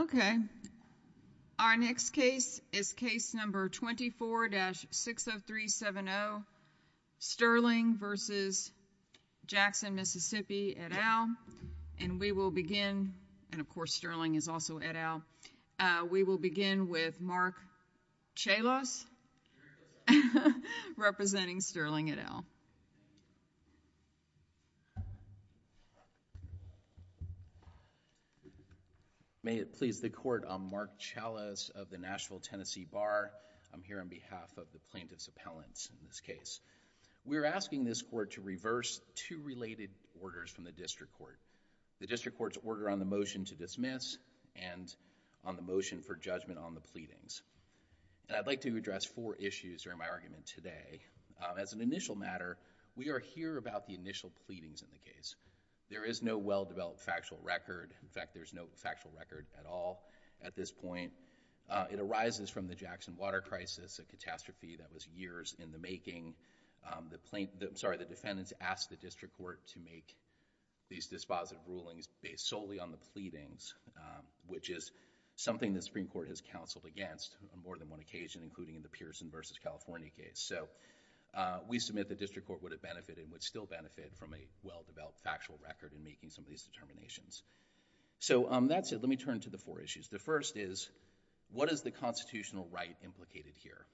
okay our next case is case number 24-60370 Sterling versus Jackson Mississippi et al and we will begin and of course Sterling is also et al we will begin with Mark Chalos representing Sterling et al may it please the court I'm Mark Chalos of the Nashville Tennessee Bar I'm here on behalf of the plaintiff's appellants in this case we're asking this court to reverse two related orders from the district court the district court's order on the motion to dismiss and on the motion for judgment on the pleadings I'd like to address four issues during my argument today as an initial matter we are here about the initial pleadings in the case there is no well-developed factual record in fact there's no factual record at all at this point it arises from the Jackson water crisis a catastrophe that was years in the making the plaintiff sorry the defendants asked the district court to make these dispositive rulings based solely on the pleadings which is something the Supreme Court has counseled against on more than one occasion including in the Pearson versus California case so we submit the district court would have benefited would still benefit from a well-developed factual record in making some of these determinations so that's it let me turn to the four issues the first is what is the constitutional right implicated here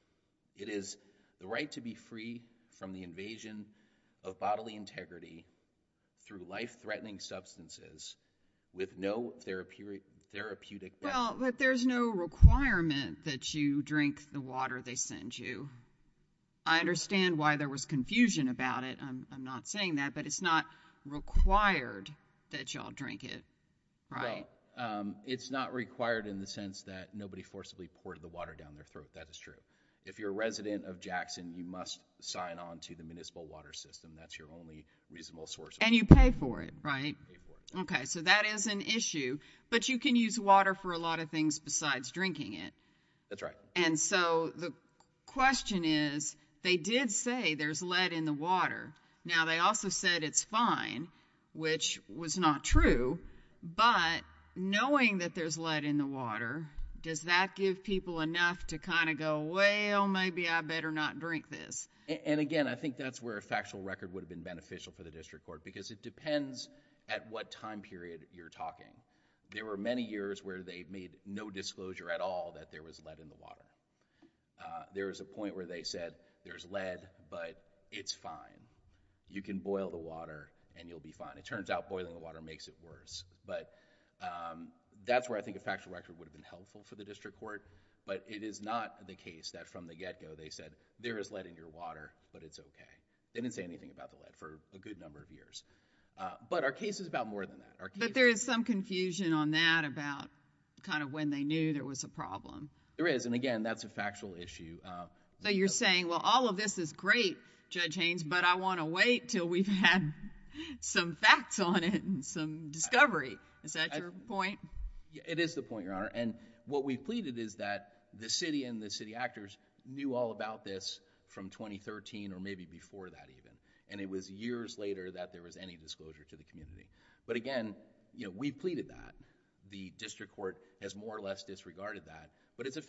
it is the right to be free from the invasion of bodily integrity through life-threatening substances with no therapeutic therapeutic well but there's no requirement that you drink the water they send you I understand why there was confusion about it I'm not saying that but it's not required that y'all drink it right it's not required in the sense that nobody forcibly poured the water down their throat that is true if you're a resident of Jackson you must sign on to the municipal water system that's your only reasonable source and you pay for it right okay so that is an issue but you can use water for a lot of things besides drinking it that's right and so the question is they did say there's lead in the water now they also said it's fine which was not true but knowing that there's lead in the water does that give people enough to kind of go well maybe I better not drink this and again I think that's where a factual record would have been beneficial for the district court because it depends at what time period you're talking there were many years where they made no disclosure at all that there was lead in the water there is a point where they said there's lead but it's fine you can boil the water and you'll be fine it turns out boiling the water makes it worse but that's where I think a factual record would have been helpful for the district court but it is not the case that from the get-go they said there is lead in your water but it's okay they didn't say anything about the lead for a good number of years but our case is about more than that. But there is some confusion on that about kind of when they knew there was a problem. There is and again that's a factual issue. So you're saying well all of this is great Judge Haynes but I want to wait till we've had some facts on it and some discovery is that your point? It is the point your honor and what we pleaded is that the city and the city actors knew all about this from 2013 or maybe before that even and it was years later that there was any disclosure to the community but again you know we pleaded that the district court has more or less disregarded that but it's a...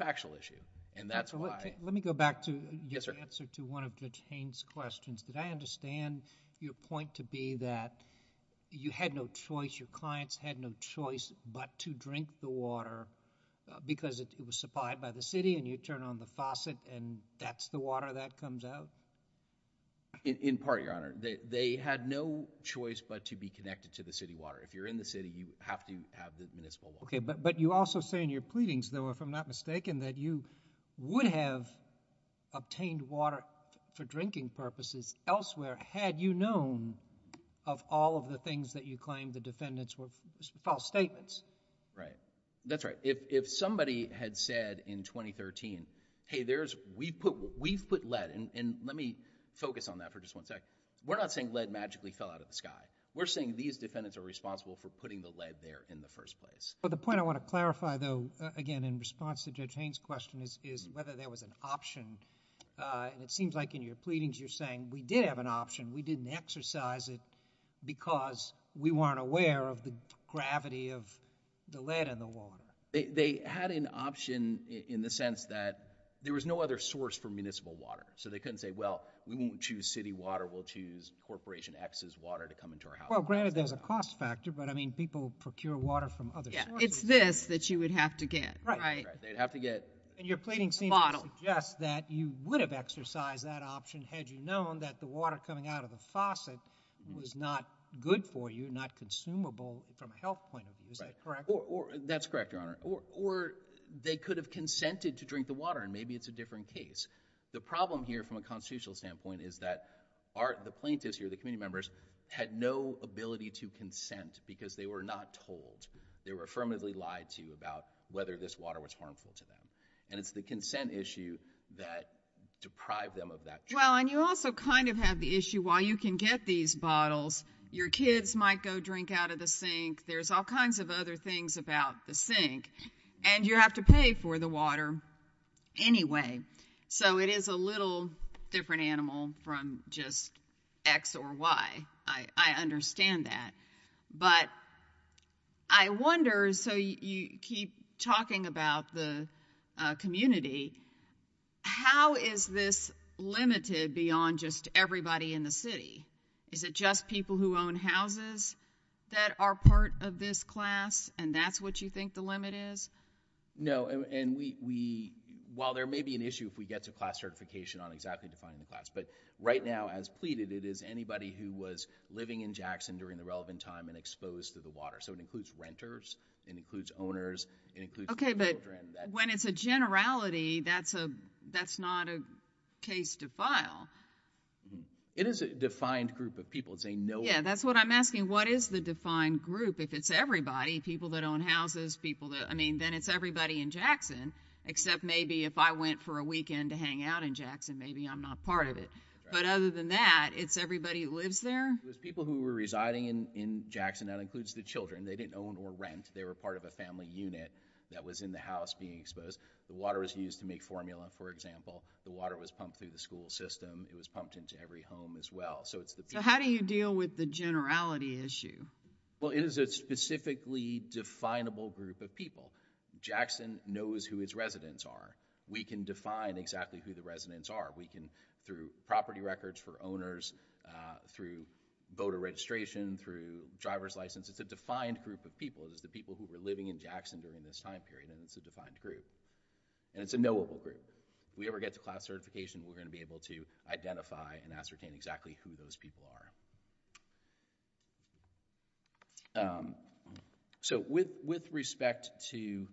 Let me go back to your answer to one of Judge Haynes' questions. Did I understand your point to be that you had no choice, your clients had no choice but to drink the water because it was supplied by the city and you turn on the faucet and that's the water that comes out? In part your honor. They had no choice but to be connected to the city water. If you're in the city you have to have the municipal water. But you also say in your pleadings though if I'm not mistaken that you would have obtained water for drinking purposes elsewhere had you known of all of the things that you claimed the defendants were... false statements. That's right. If somebody had said in 2013 hey there's... we've put lead and let me focus on that for just one second. We're not saying lead magically fell out of the sky. We're saying these defendants are responsible for putting the lead there in the first place. The point I want to clarify though again in response to Judge Haynes' question is whether there was an option and it seems like in your pleadings you're saying we did have an option. We didn't exercise it because we weren't aware of the gravity of the lead in the water. They had an option in the sense that there was no other source for municipal water. So they couldn't say well we won't choose city water we'll choose Corporation X's water to come into our house. Well granted there's a cost factor but I mean people procure water from other sources. It's this that you would have to get. And your pleadings seem to suggest that you would have exercised that option had you known that the water coming out of the faucet was not good for you, not consumable from a health point of view. Is that correct? That's correct, Your Honor. Or they could have consented to drink the water and maybe it's a different case. The problem here from a constitutional standpoint is that the plaintiffs here, the committee members, had no ability to consent because they were not told. They were affirmatively lied to about whether this water was harmful to them. And it's the consent issue that deprived them of that. Well and you also kind of have the issue while you can get these bottles your kids might go drink out of the sink. There's all kinds of other things about the sink and you have to pay for the water anyway. So it is a little different animal from just X or Y. I understand that. But I wonder, so you keep talking about the community, how is this limited beyond just everybody in the city? Is it just people who own houses that are part of this class and that's what you think the limit is? No. And we, while there may be an issue if we get to class certification on exactly defining the class. But right now as pleaded it is anybody who was living in Jackson during the relevant time and exposed to the water. So it includes renters. It includes owners. It includes children. Okay but when it's a generality that's a, that's not a case to file. It is a defined group of people. It's a no. Yeah that's what I'm asking. What is the defined group? If it's everybody, people that own houses, people that, I mean then it's everybody in Jackson except maybe if I went for a weekend to hang out in Jackson maybe I'm not part of it. But other than that, it's everybody that lives there? It was people who were residing in Jackson. That includes the children. They didn't own or rent. They were part of a family unit that was in the house being exposed. The water was used to make formula for example. The water was pumped through the school system. It was pumped into every home as well. So it's the people. So how do you deal with the generality issue? Well it is a specifically definable group of people. Jackson knows who its residents are. We can define exactly who the residents are. We can through property records for owners, through voter registration, through driver's license. It's a defined group of people. It's the people who were living in Jackson during this time period and it's a defined group. And it's a knowable group. If we ever get to class certification, we're going to be able to identify and ascertain exactly who those people are. So with respect to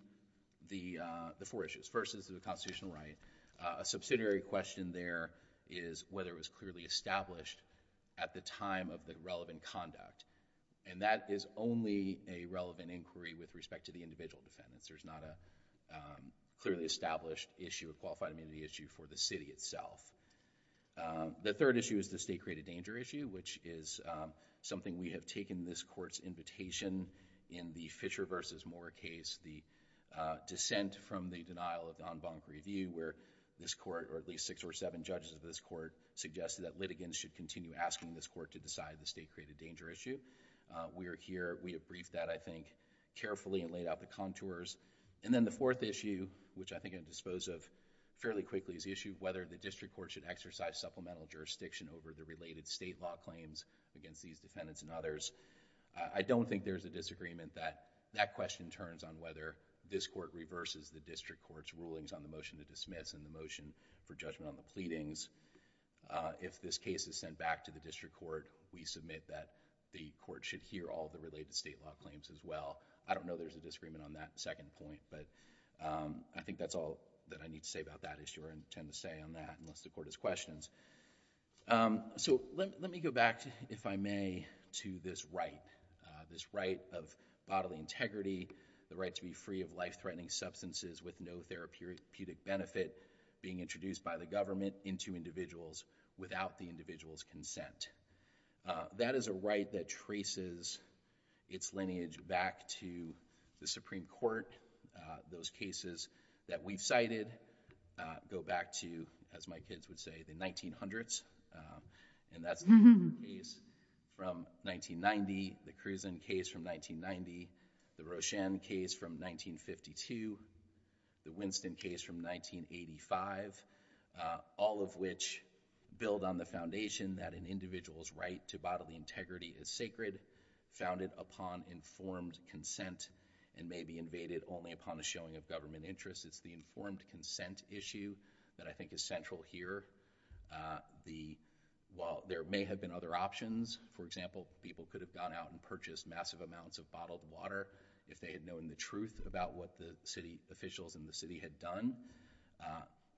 the four issues, first is the constitutional right, a subsidiary question there is whether it was clearly established at the time of the relevant conduct. And that is only a relevant inquiry with respect to the individual defendants. There's not a clearly established issue, a qualified amenity issue for the city itself. The third issue is the state-created danger issue which is something we have taken this court's invitation in the Fisher v. Moore case, the dissent from the denial of non-bonk review where this court or at least six or seven judges of this court suggested that litigants should continue asking this court to decide the state-created danger issue. We are here. We have briefed that, I think, carefully and laid out the contours. And then the fourth issue which I think I can dispose of fairly quickly is the issue of whether the district court should exercise supplemental jurisdiction over the related state law claims against these defendants and others. I don't think there's a disagreement that that question turns on whether this court reverses the district court's rulings on the motion to dismiss and the motion for judgment on the pleadings. If this case is sent back to the district court, we submit that the court should hear all the related state law claims as well. I don't know if there's a disagreement on that second point, but I think that's all that I need to say about that issue or intend to say on that unless the court has questions. So let me go back, if I may, to this right, this right of bodily integrity, the right to be free of life-threatening substances with no therapeutic benefit being introduced by the government into individuals without the individual's consent. That is a right that traces its lineage back to the Supreme Court. Those cases that we've cited go back to, as my kids would say, the 1900s, and that's case from 1990, the Kruzan case from 1990, the Roshan case from 1952, the Winston case from 1985, all of which build on the foundation that an individual's right to bodily integrity is sacred, founded upon informed consent, and may be invaded only upon a showing of government interest. It's the informed consent issue that I think is central here. While there may have been other options, for example, people could have gone out and purchased massive amounts of bottled water if they had known the truth about what the city officials in the city had done,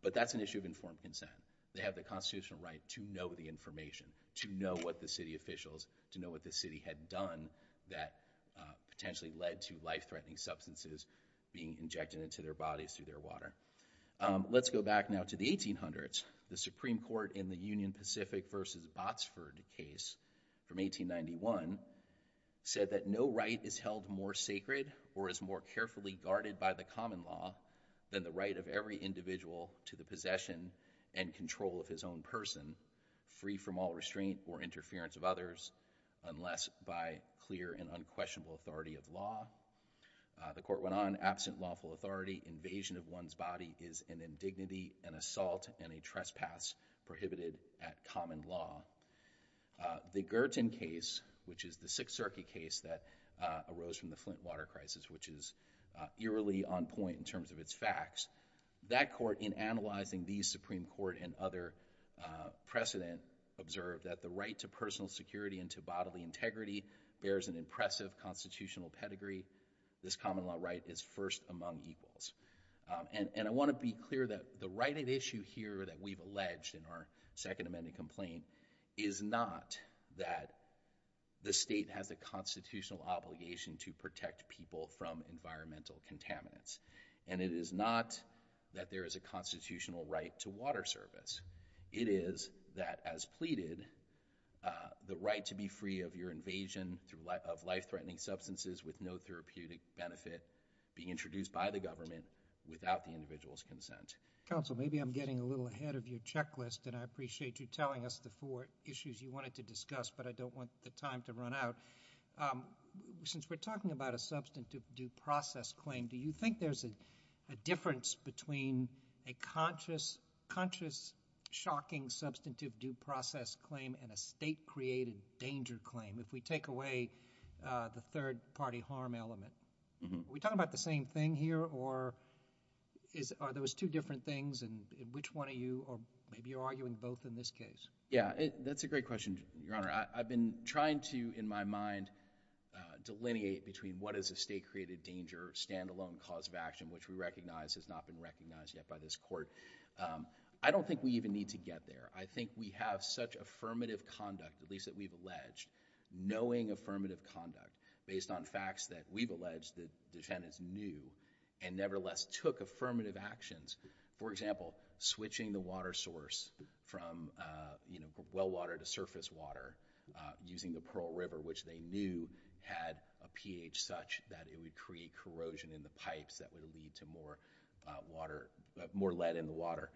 but that's an issue of informed consent. They have the constitutional right to know the information, to know what the city officials, to know what the city had done that potentially led to life-threatening substances being injected into their bodies through their water. Let's go back now to the 1800s. The Supreme Court in the Union Pacific versus Botsford case from 1891 said that no right is held more sacred or is more carefully guarded by the common law than the right of every individual to the possession and control of his own person, free from all restraint or interference of others, unless by clear and unquestionable authority of law. The court went on, absent lawful authority, invasion of one's body is an indignity, an assault, and a trespass prohibited at common law. The Gerton case, which is the Sixth Circuit case that arose from the Flint water crisis, which is eerily on point in terms of its facts, that court, in analyzing the Supreme Court and other precedent, observed that the right to personal security and to bodily integrity bears an impressive constitutional pedigree. This common law right is first among equals. And I want to be clear that the right at issue here that we've alleged in our second amended complaint is not that the state has a constitutional obligation to protect people from environmental contaminants. And it is not that there is a constitutional right to water service. It is that, as pleaded, the right to be free of your invasion of life-threatening substances with no therapeutic benefit being introduced by the government without the individual's consent. Counsel, maybe I'm getting a little ahead of your checklist, and I appreciate you telling us the four issues you wanted to discuss, but I don't want the time to run out. Since we're talking about a substantive due process claim, do you think there's a difference between a conscious, shocking, substantive due process claim and a state-created danger claim, if we take away the third-party harm element? Are we talking about the same thing here, or are those two different things, and which one are you, or maybe you're arguing both in this case? Yeah, that's a great question, Your Honor. I've been trying to, in my mind, delineate between what is a state-created danger, standalone cause of action, which we recognize has not been recognized yet by this Court. I don't think we even need to get there. I think we have such affirmative conduct, at least that we've alleged, knowing affirmative conduct based on facts that we've alleged that defendants knew and nevertheless took affirmative actions. For example, switching the water source from well water to surface water using the Pearl Pipes that would lead to more water, more lead in the water.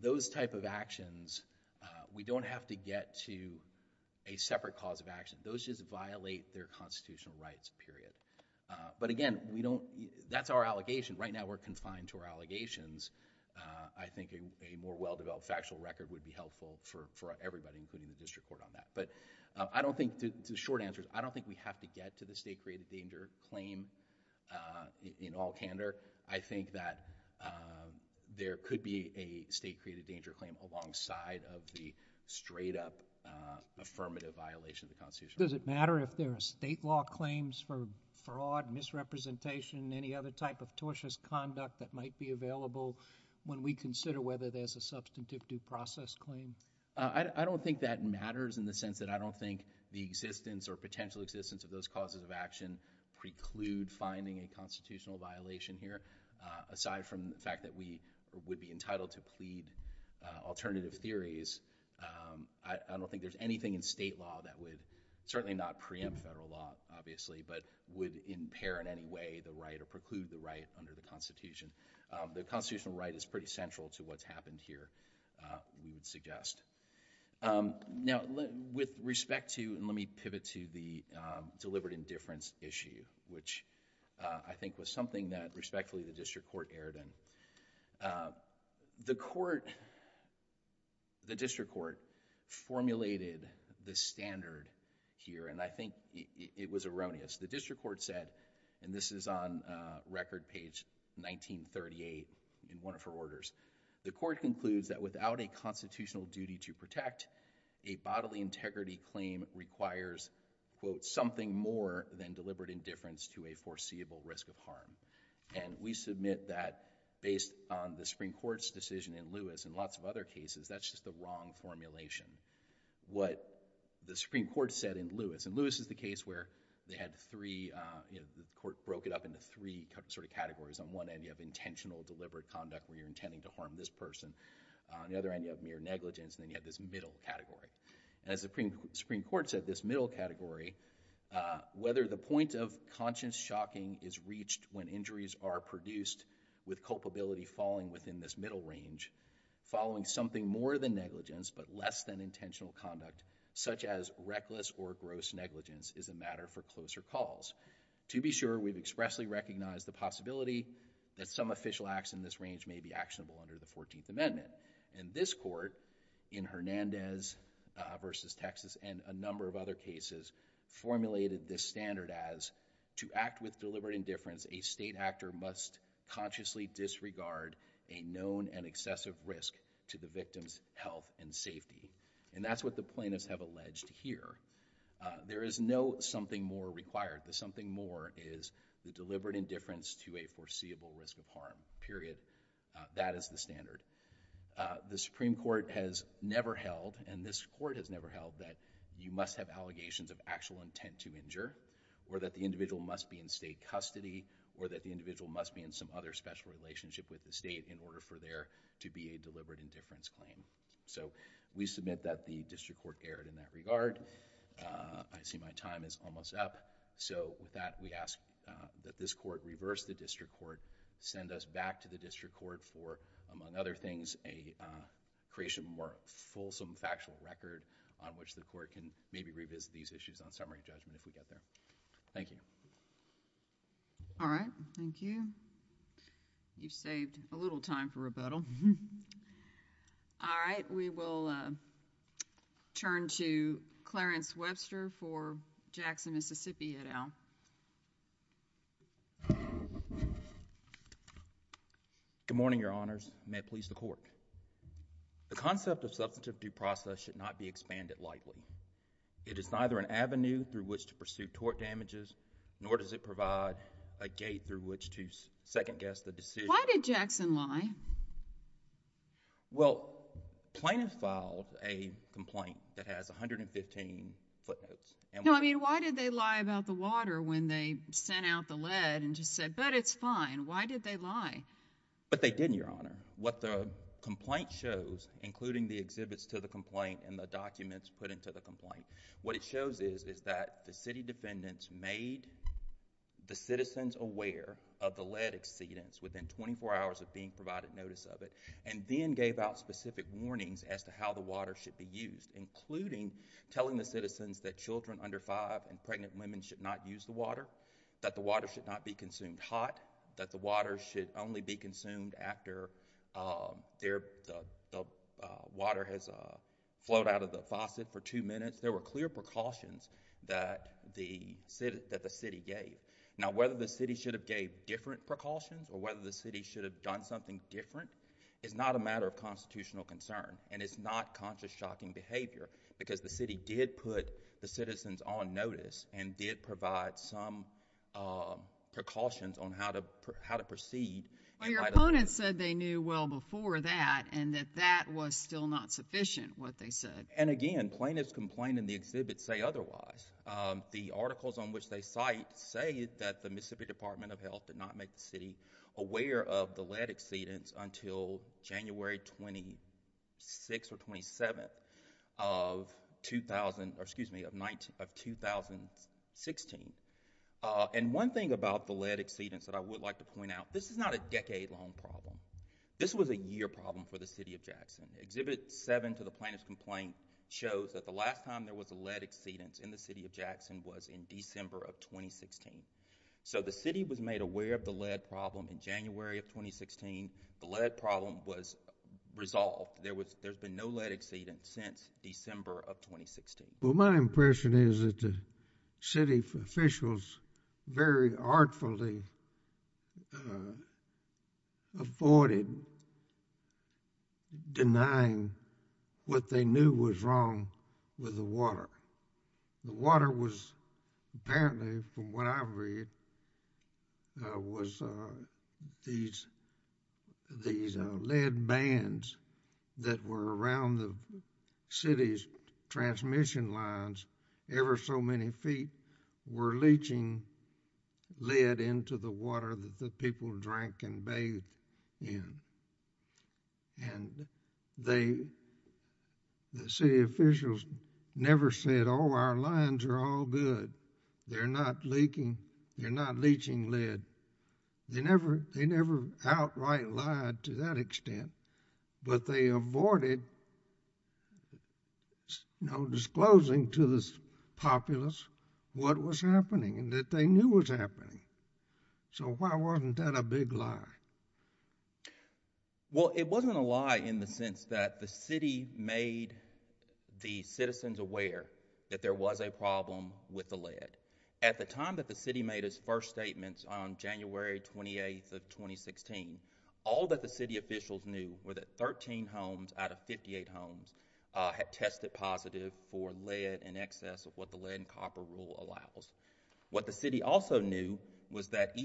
Those type of actions, we don't have to get to a separate cause of action. Those just violate their constitutional rights, period. But again, we don't, that's our allegation. Right now, we're confined to our allegations. I think a more well-developed factual record would be helpful for everybody, including the District Court on that. But I don't think, to short answers, I don't think we have to get to the state-created danger claim in all candor. I think that there could be a state-created danger claim alongside of the straight-up affirmative violation of the Constitution. Does it matter if there are state law claims for fraud, misrepresentation, any other type of tortious conduct that might be available when we consider whether there's a substantive due process claim? I don't think that matters in the sense that I don't think the existence or potential existence of those causes of action preclude finding a constitutional violation here. Aside from the fact that we would be entitled to plead alternative theories, I don't think there's anything in state law that would, certainly not preempt federal law, obviously, but would impair in any way the right or preclude the right under the Constitution. The constitutional right is pretty central to what's happened here, we would suggest. Now, with respect to, let me pivot to the deliberate indifference issue, which I think was something that, respectfully, the district court erred in. The court, the district court formulated the standard here, and I think it was erroneous. The district court said, and this is on record page 1938 in one of her orders, the court concludes that, without a constitutional duty to protect, a bodily integrity claim requires, quote, something more than deliberate indifference to a foreseeable risk of harm. We submit that, based on the Supreme Court's decision in Lewis, and lots of other cases, that's just the wrong formulation. What the Supreme Court said in Lewis, and Lewis is the case where they had three, the court broke it up into three categories, on one end you have intentional deliberate conduct where you're intending to harm this person, on the other end you have mere negligence, and then you have this middle category. As the Supreme Court said, this middle category, whether the point of conscious shocking is reached when injuries are produced with culpability falling within this middle range, following something more than negligence, but less than intentional conduct, such as reckless or gross negligence is a matter for closer calls. To be sure, we've expressly recognized the possibility that some official acts in this range may be actionable under the 14th Amendment, and this court, in Hernandez versus Texas, and a number of other cases, formulated this standard as, to act with deliberate indifference, a state actor must consciously disregard a known and excessive risk to the victim's health and safety, and that's what the plaintiffs have alleged here. There is no something more required, the something more is the deliberate indifference to a foreseeable risk of harm, period, that is the standard. The Supreme Court has never held, and this court has never held, that you must have allegations of actual intent to injure, or that the individual must be in state custody, or that the individual must be in some other special relationship with the state in order for there to be a deliberate indifference claim. So we submit that the district court erred in that regard, I see my time is almost up, so with that, we ask that this court reverse the district court, send us back to the district court for, among other things, a creation of a more fulsome factual record on which the court can maybe revisit these issues on summary judgment if we get there. Thank you. All right, thank you, you've saved a little time for rebuttal. All right, we will turn to Clarence Webster for Jackson, Mississippi, et al. Good morning, Your Honors, and may it please the Court. The concept of substantive due process should not be expanded lightly. It is neither an avenue through which to pursue tort damages, nor does it provide a gate through which to second-guess the decision. Why did Jackson lie? Well, plaintiff filed a complaint that has 115 footnotes. No, I mean, why did they lie about the water when they sent out the lead and just said, but it's fine, why did they lie? But they didn't, Your Honor. What the complaint shows, including the exhibits to the complaint and the documents put into the complaint, what it shows is, is that the city defendants made the citizens aware of the lead exceedance within 24 hours of being provided notice of it, and then gave out specific warnings as to how the water should be used, including telling the citizens that children under five and pregnant women should not use the water, that the water should not be consumed hot, that the water should only be consumed after the water has flowed out of the faucet for two minutes. There were clear precautions that the city gave. Now, whether the city should have gave different precautions or whether the city should have done something different is not a matter of constitutional concern, and it's not conscious shocking behavior, because the city did put the citizens on notice and did provide some precautions on how to proceed. But your opponents said they knew well before that and that that was still not sufficient, what they said. And again, plaintiffs' complaint and the exhibits say otherwise. The articles on which they cite say that the Mississippi Department of Health did not make the city aware of the lead exceedance until January 26th or 27th of 2016. And one thing about the lead exceedance that I would like to point out, this is not a decade-long problem. This was a year problem for the city of Jackson. Exhibit 7 to the plaintiffs' complaint shows that the last time there was a lead exceedance in the city of Jackson was in December of 2016. So the city was made aware of the lead problem in January of 2016. The lead problem was resolved. There's been no lead exceedance since December of 2016. Well, my impression is that the city officials very artfully avoided denying what they knew was wrong with the water. The water was apparently, from what I read, was these lead bands that were around the city's transmission lines ever so many feet were leaching lead into the water that the people drank and bathed in. And the city officials never said, oh, our lines are all good. They're not leaching lead. They never outright lied to that extent, but they avoided disclosing to the populace what was happening and that they knew was happening. So why wasn't that a big lie? Well, it wasn't a lie in the sense that the city made the citizens aware that there was a problem with the lead. At the time that the city made its first statements on January 28th of 2016, all that the city officials knew were that 13 homes out of 58 homes had tested positive for lead in excess of what the lead and copper rule allows. What the city also knew was that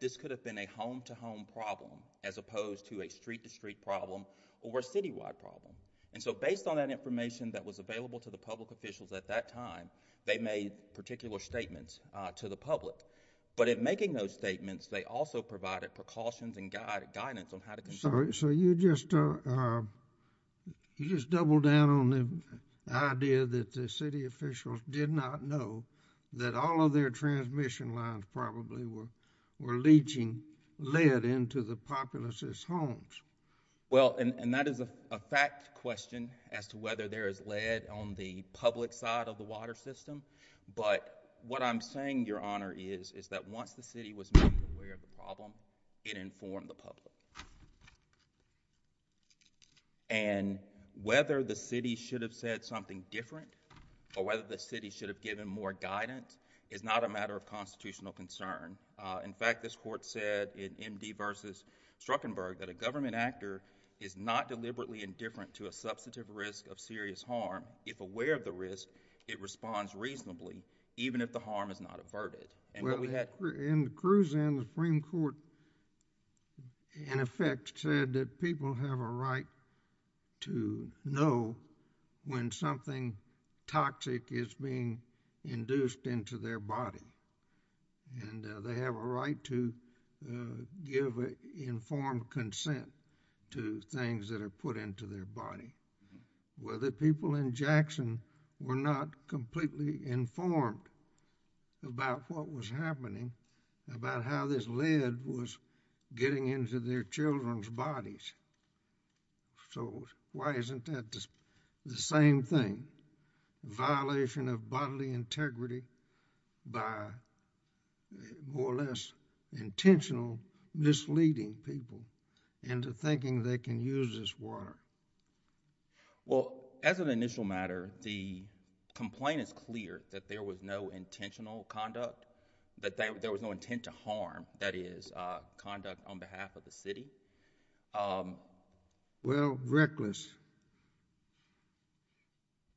this could have been a home-to-home problem as opposed to a street-to-street problem or a citywide problem. And so based on that information that was available to the public officials at that time, they made particular statements to the public. But in making those statements, they also provided precautions and guidance on how to control it. So you just doubled down on the idea that the city officials did not know that all of their transmission lines probably were leaching lead into the populace's homes. Well, and that is a fact question as to whether there is lead on the public side of the water system. But what I'm saying, Your Honor, is that once the city was made aware of the problem, it informed the public. And whether the city should have said something different or whether the city should have given more guidance is not a matter of constitutional concern. In fact, this Court said in M.D. v. Struckenberg that a government actor is not deliberately indifferent to a substantive risk of serious harm. If aware of the risk, it responds reasonably, even if the harm is not averted. Well, in Kruzan, the Supreme Court, in effect, said that people have a right to know when something toxic is being induced into their body. And they have a right to give informed consent to things that are put into their body. Well, the people in Jackson were not completely informed about what was happening, about how this lead was getting into their children's bodies. So why isn't that the same thing? Violation of bodily integrity by more or less intentional misleading people into thinking they can use this water. Well, as an initial matter, the complaint is clear that there was no intentional conduct, that there was no intent to harm, that is, conduct on behalf of the city. Well, reckless.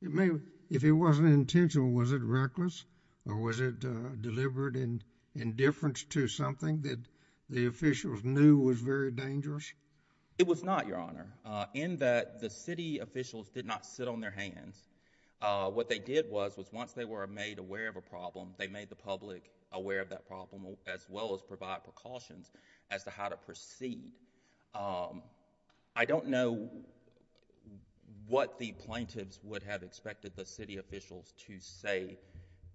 If it wasn't intentional, was it reckless or was it deliberate indifference to something that the officials knew was very dangerous? It was not, Your Honor. In that the city officials did not sit on their hands. What they did was, was once they were made aware of a problem, they made the public aware of that problem as well as provide precautions as to how to proceed. I don't know what the plaintiffs would have expected the city officials to say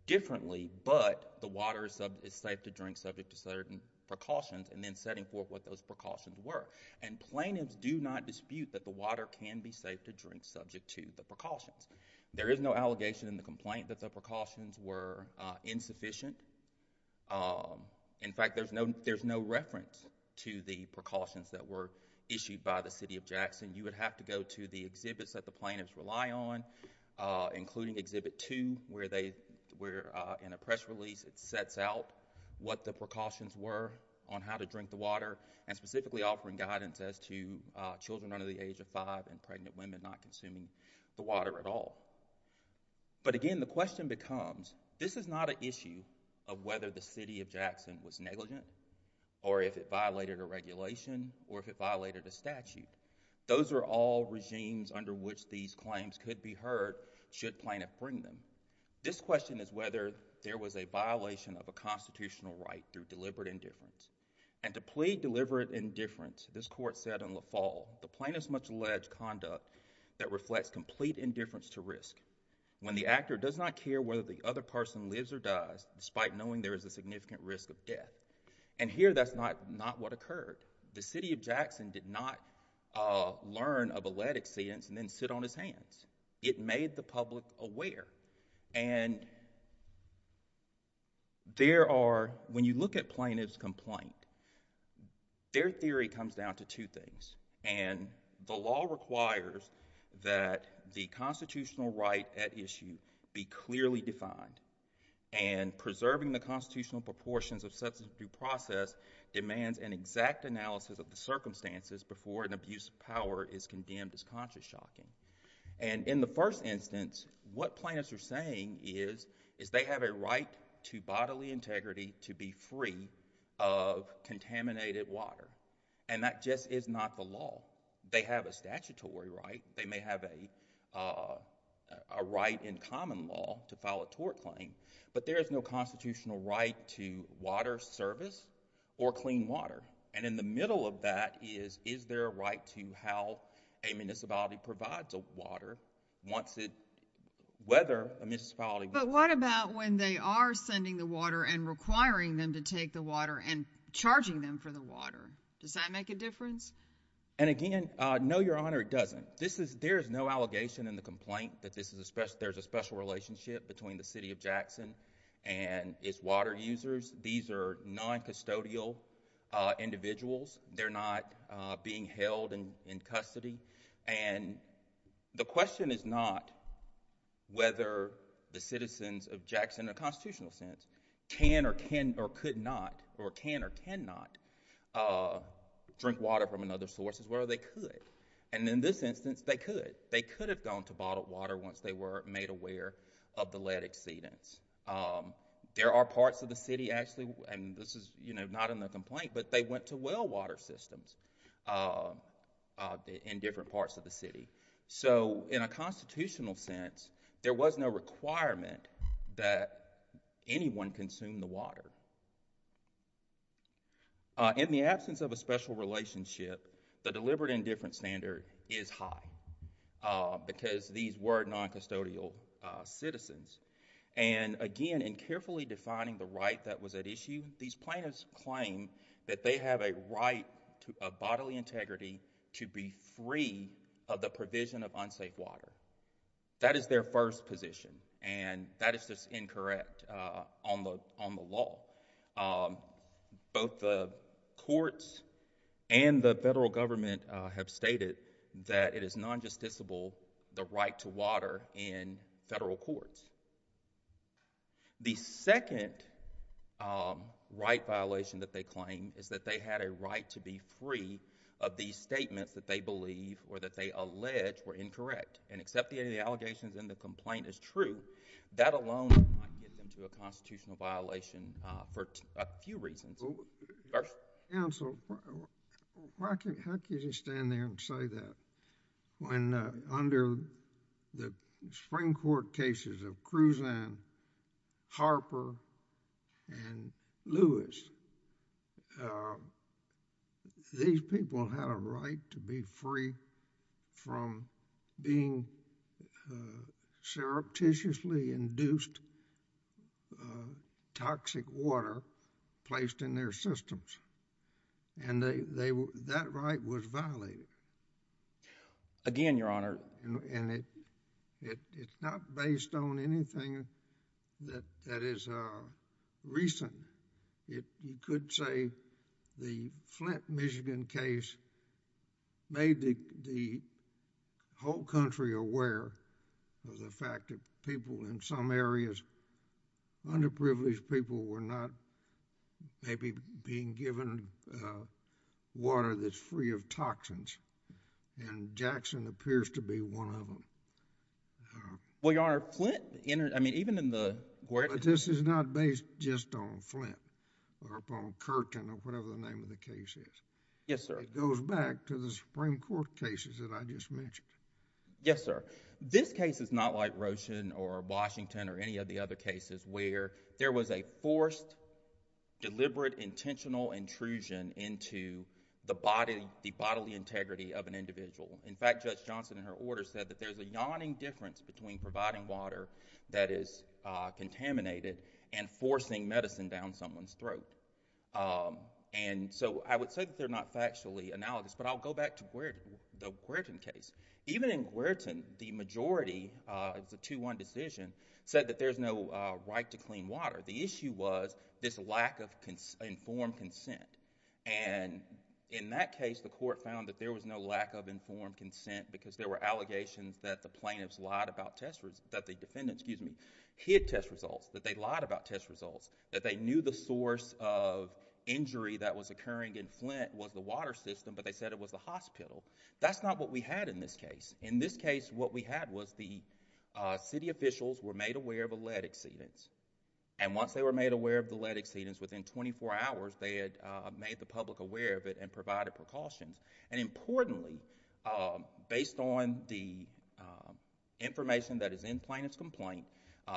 differently, but the water is safe to drink, subject to certain precautions, and then setting forth what those precautions were. Plaintiffs do not dispute that the water can be safe to drink, subject to the precautions. There is no allegation in the complaint that the precautions were insufficient. In fact, there's no reference to the precautions that were issued by the city of Jackson. You would have to go to the exhibits that the plaintiffs rely on, including exhibit two, where in a press release it sets out what the precautions were on how to drink the water and specifically offering guidance as to children under the age of five and pregnant women not consuming the water at all. But again, the question becomes, this is not an issue of whether the city of Jackson was negligent or if it violated a regulation or if it violated a statute. Those are all regimes under which these claims could be heard should plaintiffs bring them. This question is whether there was a violation of a constitutional right through deliberate indifference. And to plead deliberate indifference, this court said in La Fall, the plaintiff's much-alleged conduct that reflects complete indifference to risk. When the actor does not care whether the other person lives or dies, despite knowing there is a significant risk of death. And here, that's not what occurred. The city of Jackson did not learn of a lead exceedence and then sit on his hands. It made the public aware. And there are, when you look at plaintiff's complaint, their theory comes down to two things. And the law requires that the constitutional right at issue be clearly defined. And preserving the constitutional proportions of such a due process demands an exact analysis of the circumstances before an abuse of power is condemned as consciously shocking. And in the first instance, what plaintiffs are saying is, is they have a right to bodily integrity to be free of contaminated water. And that just is not the law. They have a statutory right. They may have a right in common law to file a tort claim. But there is no constitutional right to water service or clean water. And in the middle of that is, is there a right to how a municipality provides a water once it, whether a municipality. But what about when they are sending the water and requiring them to take the water and charging them for the water? Does that make a difference? And again, no, Your Honor, it doesn't. This is, there is no allegation in the complaint that this is a special, there's a special relationship between the city of Jackson and its water users. These are non-custodial individuals. They're not being held in custody. And the question is not whether the citizens of Jackson in a constitutional sense can or can or could not or can or cannot drink water from another source as well. They could. And in this instance, they could. They could have gone to bottled water once they were made aware of the lead exceedance. There are parts of the city actually, and this is, you know, not in the complaint, but they went to well water systems in different parts of the city. So, in a constitutional sense, there was no requirement that anyone consume the water. In the absence of a special relationship, the deliberate indifference standard is high because these were non-custodial citizens. And again, in carefully defining the right that was at issue, these plaintiffs claim that they have a right of bodily integrity to be free of the provision of unsafe water. That is their first position. And that is just incorrect on the law. Both the courts and the federal government have stated that it is non-justiciable the right to water in federal courts. The second right violation that they claim is that they had a right to be free of these statements that they believe or that they allege were incorrect. And except the allegations and the complaint is true, that alone might get them to a constitutional violation for a few reasons. Judge? Counsel, how can you stand there and say that when under the spring court cases of Cruzan, Harper, and Lewis, these people had a right to be free from being surreptitiously induced toxic water placed in their systems? And that right was violated. Again, Your Honor. And it's not based on anything that is recent. You could say the Flint, Michigan case made the whole country aware of the fact that people in some areas, underprivileged people, were not maybe being given water that's free of toxins. And Jackson appears to be one of them. Well, Your Honor, Flint, I mean, even in the... But this is not based just on Flint or upon Curtin or whatever the name of the case is. Yes, sir. It goes back to the spring court cases that I just mentioned. Yes, sir. This case is not like Roshan or Washington or any of the other cases where there was a forced, deliberate, intentional intrusion into the bodily integrity of an individual. In fact, Judge Johnson, in her order, said that there's a yawning difference between providing water that is contaminated and forcing medicine down someone's throat. And so I would say that they're not factually analogous. But I'll go back to the Querton case. Even in Querton, the majority, it's a 2-1 decision, said that there's no right to clean water. The issue was this lack of informed consent. And in that case, the court found that there was no lack of informed consent because there were allegations that the plaintiffs lied about test... that the defendants, excuse me, hid test results, that they lied about test results, that they knew the source of injury that was occurring in Flint was the water system, but they said it was the hospital. That's not what we had in this case. In this case, what we had was the city officials were made aware of a lead exceedance. And once they were made aware of the lead exceedance, within 24 hours, they had made the public aware of it and provided precautions. And importantly, based on the information that is in Plaintiff's Complaint,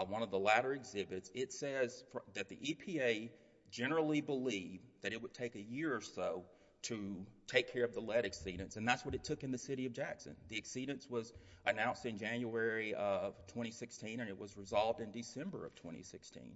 one of the latter exhibits, it says that the EPA generally believed that it would take a year or so to take care of the lead exceedance, and that's what it took in the city of Jackson. The exceedance was announced in January of 2016, and it was resolved in December of 2016.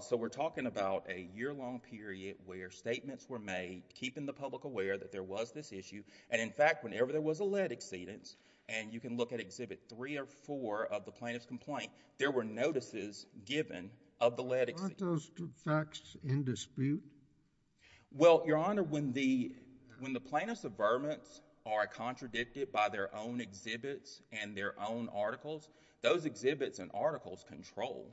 So we're talking about a year-long period where statements were made, keeping the public aware that there was this issue, and in fact, whenever there was a lead exceedance, and you can look at Exhibit 3 or 4 of the Plaintiff's Complaint, there were notices given of the lead exceedance. Weren't those facts in dispute? Well, Your Honor, when the plaintiffs' averments are contradicted by their own exhibits and their own articles, those exhibits and articles control,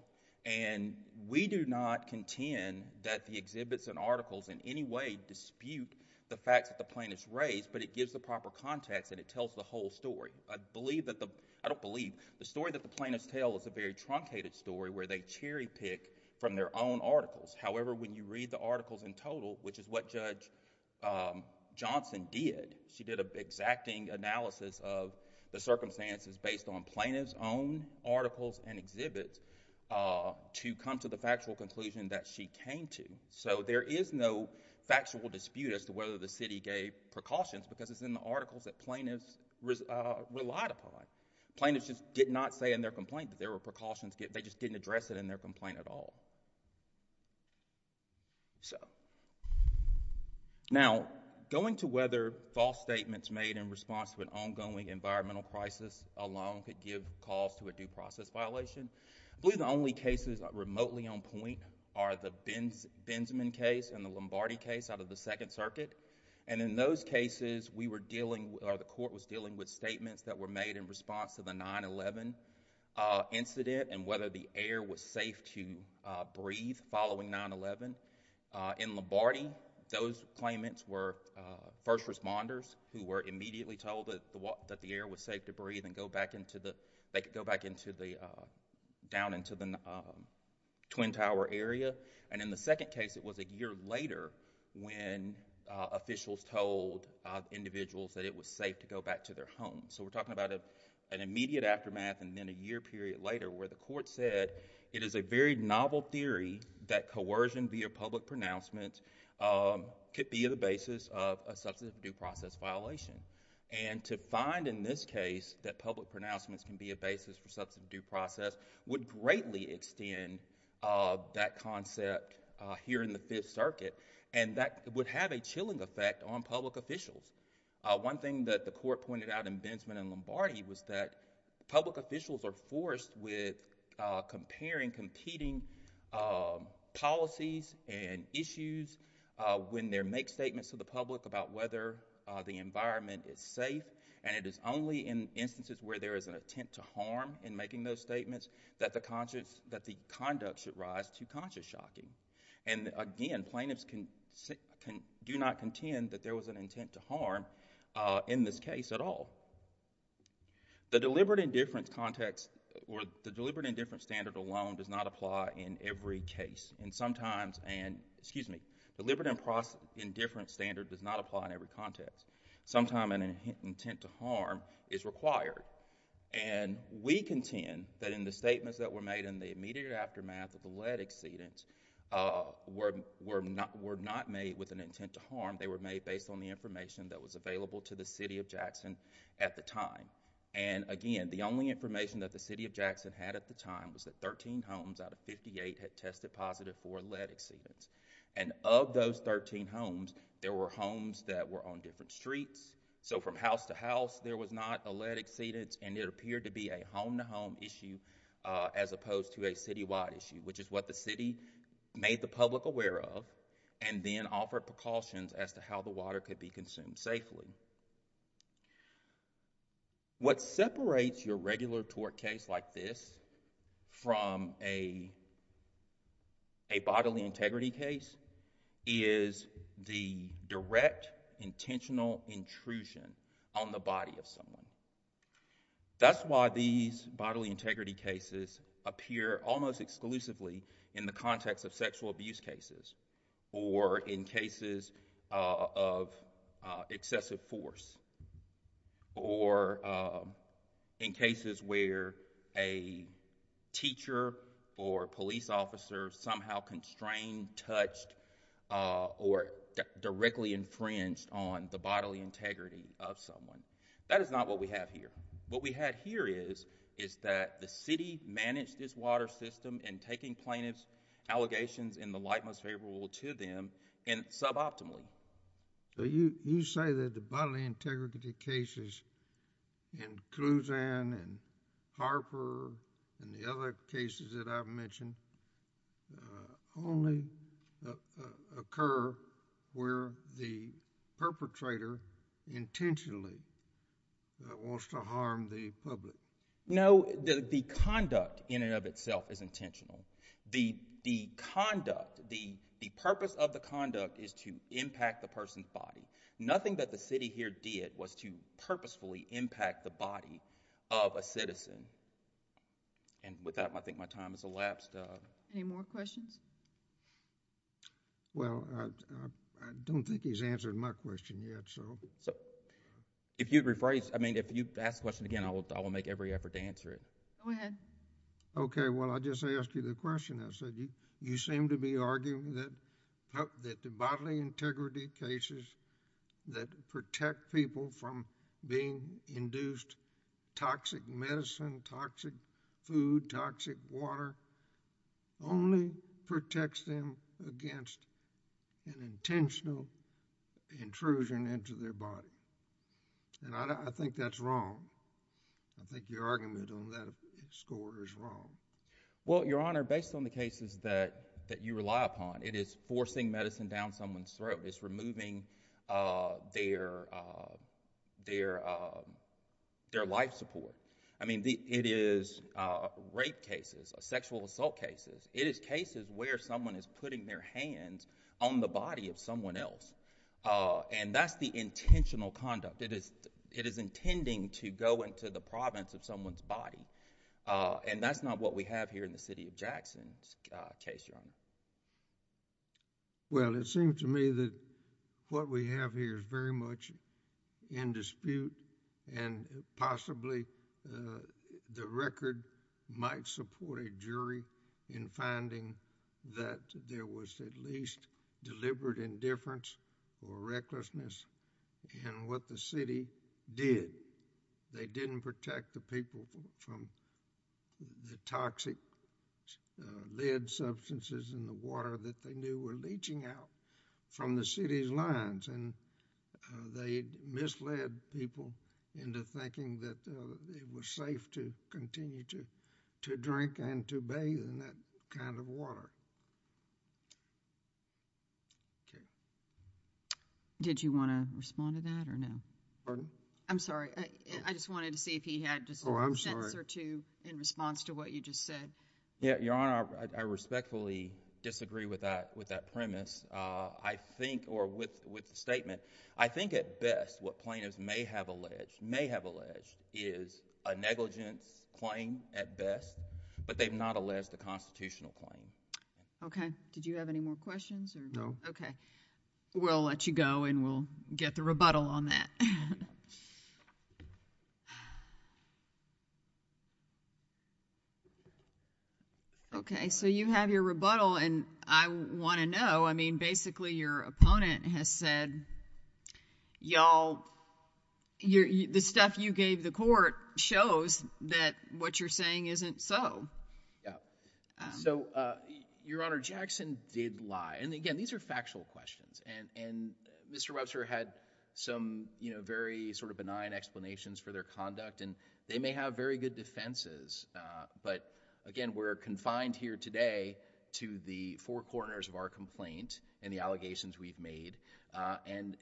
and we do not contend that the exhibits and articles in any way dispute the facts that the plaintiffs raise, but it gives the proper context and it tells the whole story. I believe that the, I don't believe, the story that the plaintiffs tell is a very truncated story where they cherry-pick from their own articles. However, when you read the articles in total, which is what Judge Johnson did, she did an exacting analysis of the circumstances based on plaintiffs' own articles and exhibits to come to the factual conclusion that she came to. So there is no factual dispute as to whether the city gave precautions because it's in the articles that plaintiffs relied upon. Plaintiffs just did not say in their complaint that there were precautions. They just didn't address it in their complaint at all. Now, going to whether false statements made in response to an ongoing environmental crisis alone could give cause to a due process violation, I believe the only cases remotely on point are the Benzeman case and the Lombardi case out of the Second Circuit, and in those cases we were dealing, or the court was dealing with statements that were made in response to the 9-11 incident and whether the air was safe to breathe following 9-11. In Lombardi, those claimants were first responders who were immediately told that the air was safe to breathe and they could go back down into the Twin Tower area, and in the second case, it was a year later when officials told individuals that it was safe to go back to their homes. So we're talking about an immediate aftermath and then a year period later where the court said it is a very novel theory that coercion via public pronouncement could be the basis of a substantive due process violation, and to find in this case that public pronouncements can be a basis for substantive due process would greatly extend that concept here in the Fifth Circuit, and that would have a chilling effect on public officials. One thing that the court pointed out in Benzeman and Lombardi was that public officials are forced with comparing competing policies and issues when they make statements to the public about whether the environment is safe, and it is only in instances where there is an attempt to harm in making those statements that the conduct should rise to conscious shocking, and again, plaintiffs do not contend that there was an intent to harm in this case at all. The deliberate indifference context or the deliberate indifference standard alone does not apply in every case, and sometimes... excuse me, deliberate indifference standard does not apply in every context. Sometimes an intent to harm is required, and we contend that in the statements that were made in the immediate aftermath of the lead exceedance were not made with an intent to They were made based on the information that was available to the City of Jackson at the time, and again, the only information that the City of Jackson had at the time was that 13 homes out of 58 had tested positive for lead exceedance, and of those 13 homes, there were homes that were on different streets, so from house to house there was not a lead exceedance, and it appeared to be a home-to-home issue as opposed to a citywide issue, which is what the city made the public aware of and then offered precautions as to how the water could be consumed safely. What separates your regular tort case like this from a bodily integrity case is the direct intentional intrusion on the body of someone. That's why these bodily integrity cases appear almost exclusively in the context of sexual abuse cases or in cases of excessive force or in cases where a teacher or police officer somehow constrained, touched, or directly infringed on the bodily integrity of someone. That is not what we have here. What we have here is that the city managed this water system in taking plaintiffs' allegations in the light most favorable to them and suboptimally. You say that the bodily integrity cases in Clusan and Harper and the other cases that I've mentioned only occur where the perpetrator intentionally wants to harm the public. No, the conduct in and of itself is intentional. The purpose of the conduct is to impact the person's body. Nothing that the city here did was to purposefully impact the body of a citizen. With that, I think my time has elapsed. Any more questions? Well, I don't think he's answered my question yet. If you'd ask the question again, I will make every effort to answer it. Go ahead. Okay. Well, I just asked you the question. I said you seem to be arguing that the bodily integrity cases that protect people from being induced toxic medicine, toxic food, toxic water only protects them against an intentional intrusion into their body. I think that's wrong. I think your argument on that score is wrong. Well, Your Honor, based on the cases that you rely upon, it is forcing medicine down someone's throat. It's removing their life support. I mean, it is rape cases, sexual assault cases. It is cases where someone is putting their hands on the body of someone else, and that's the intentional conduct. It is intending to go into the province of someone's body, and that's not what we have here in the city of Jackson's case, Your Honor. Well, it seems to me that what we have here is very much in dispute, and possibly the record might support a jury in finding that there was at least deliberate indifference or recklessness in what the city did. They didn't protect the people from the toxic lead substances in the water that they knew were leaching out from the city's lines, and they misled people into thinking that it was safe to continue to drink and to bathe in that kind of water. Okay. Did you want to respond to that or no? Pardon? I'm sorry. I just wanted to see if he had just a sentence or two in response to what you just said. Yeah. Your Honor, I respectfully disagree with that premise. I think, or with the statement, I think at best what plaintiffs may have alleged is a negligence claim at best, but they've not alleged a constitutional claim. Okay. Did you have any more questions or no? No. Okay. We'll let you go, and we'll get the rebuttal on that. Okay. So you have your rebuttal, and I want to know, I mean, basically your opponent has said, y'all, the stuff you gave the court shows that what you're saying isn't so. So, Your Honor, Jackson did lie. And again, these are factual questions, and Mr. Webster had some very sort of benign explanations for their conduct, and they may have very good defenses, but again, we're confined here today to the four corners of our complaint and the allegations we've made, and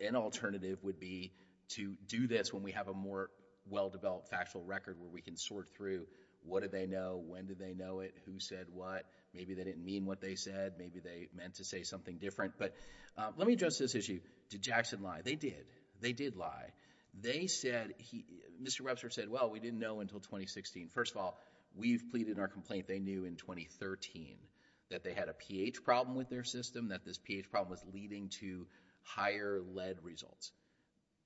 an alternative would be to do this when we have a more well-developed factual record where we can sort through what did they know, when did they know it, who said what. Maybe they didn't mean what they said. Maybe they meant to say something different. But let me address this issue. Did Jackson lie? They did. They did lie. They said, Mr. Webster said, well, we didn't know until 2016. First of all, we've pleaded in our complaint they knew in 2013 that they had a pH problem with their system, that this pH problem was leading to higher lead results.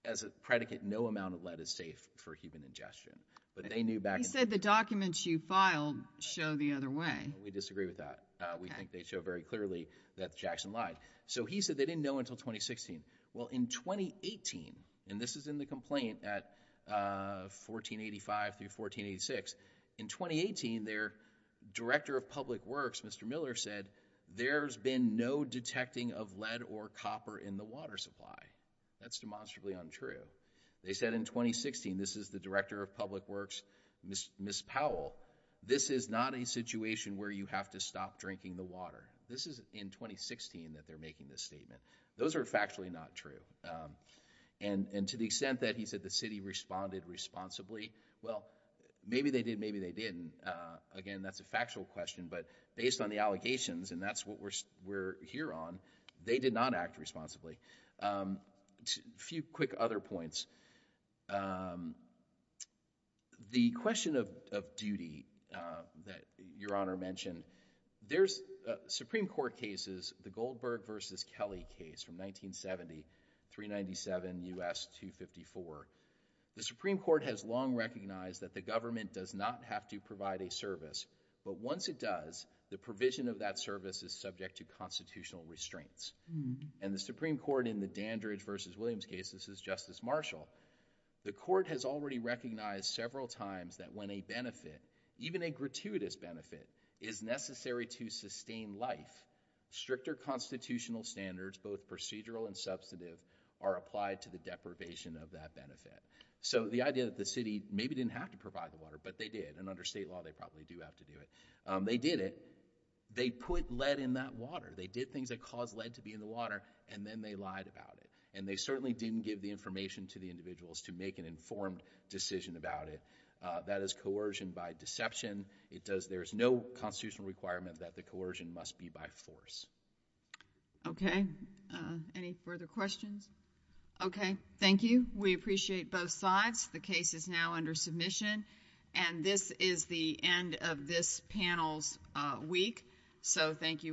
As a predicate, no amount of lead is safe for human ingestion. But they knew back then. He said the documents you filed show the other way. We disagree with that. We think they show very clearly that Jackson lied. So he said they didn't know until 2016. Well, in 2018, and this is in the complaint at 1485 through 1486, in 2018 their director of public works, Mr. Miller, said there's been no detecting of lead or copper in the water supply. That's demonstrably untrue. They said in 2016, this is the director of public works, Ms. Powell, this is not a situation where you have to stop drinking the water. This is in 2016 that they're making this statement. Those are factually not true. And to the extent that he said the city responded responsibly, well, maybe they did, maybe they didn't. Again, that's a factual question, but based on the allegations, and that's what we're here on, they did not act responsibly. A few quick other points. The question of duty that Your Honor mentioned, there's Supreme Court cases, the Goldberg v. Kelly case from 1970, 397 U.S. 254. The Supreme Court has long recognized that the government does not have to provide a service, but once it does, the provision of that service is subject to constitutional restraints. And the Supreme Court in the Dandridge v. Williams case, this is Justice Marshall, the court has already recognized several times that when a benefit, even a gratuitous benefit, is necessary to sustain life, stricter constitutional standards, both procedural and substantive, are applied to the deprivation of that benefit. So, the idea that the city maybe didn't have to provide the water, but they did, and under state law, they probably do have to do it. They did it. They put lead in that water. They did things that caused lead to be in the water, and then they lied about it. And they certainly didn't give the information to the individuals to make an informed decision about it. That is coercion by deception. There is no constitutional requirement that the coercion must be by force. Okay. Any further questions? Okay. Thank you. We appreciate both sides. The case is now under submission. And this is the end of this panel's week. So, thank you all.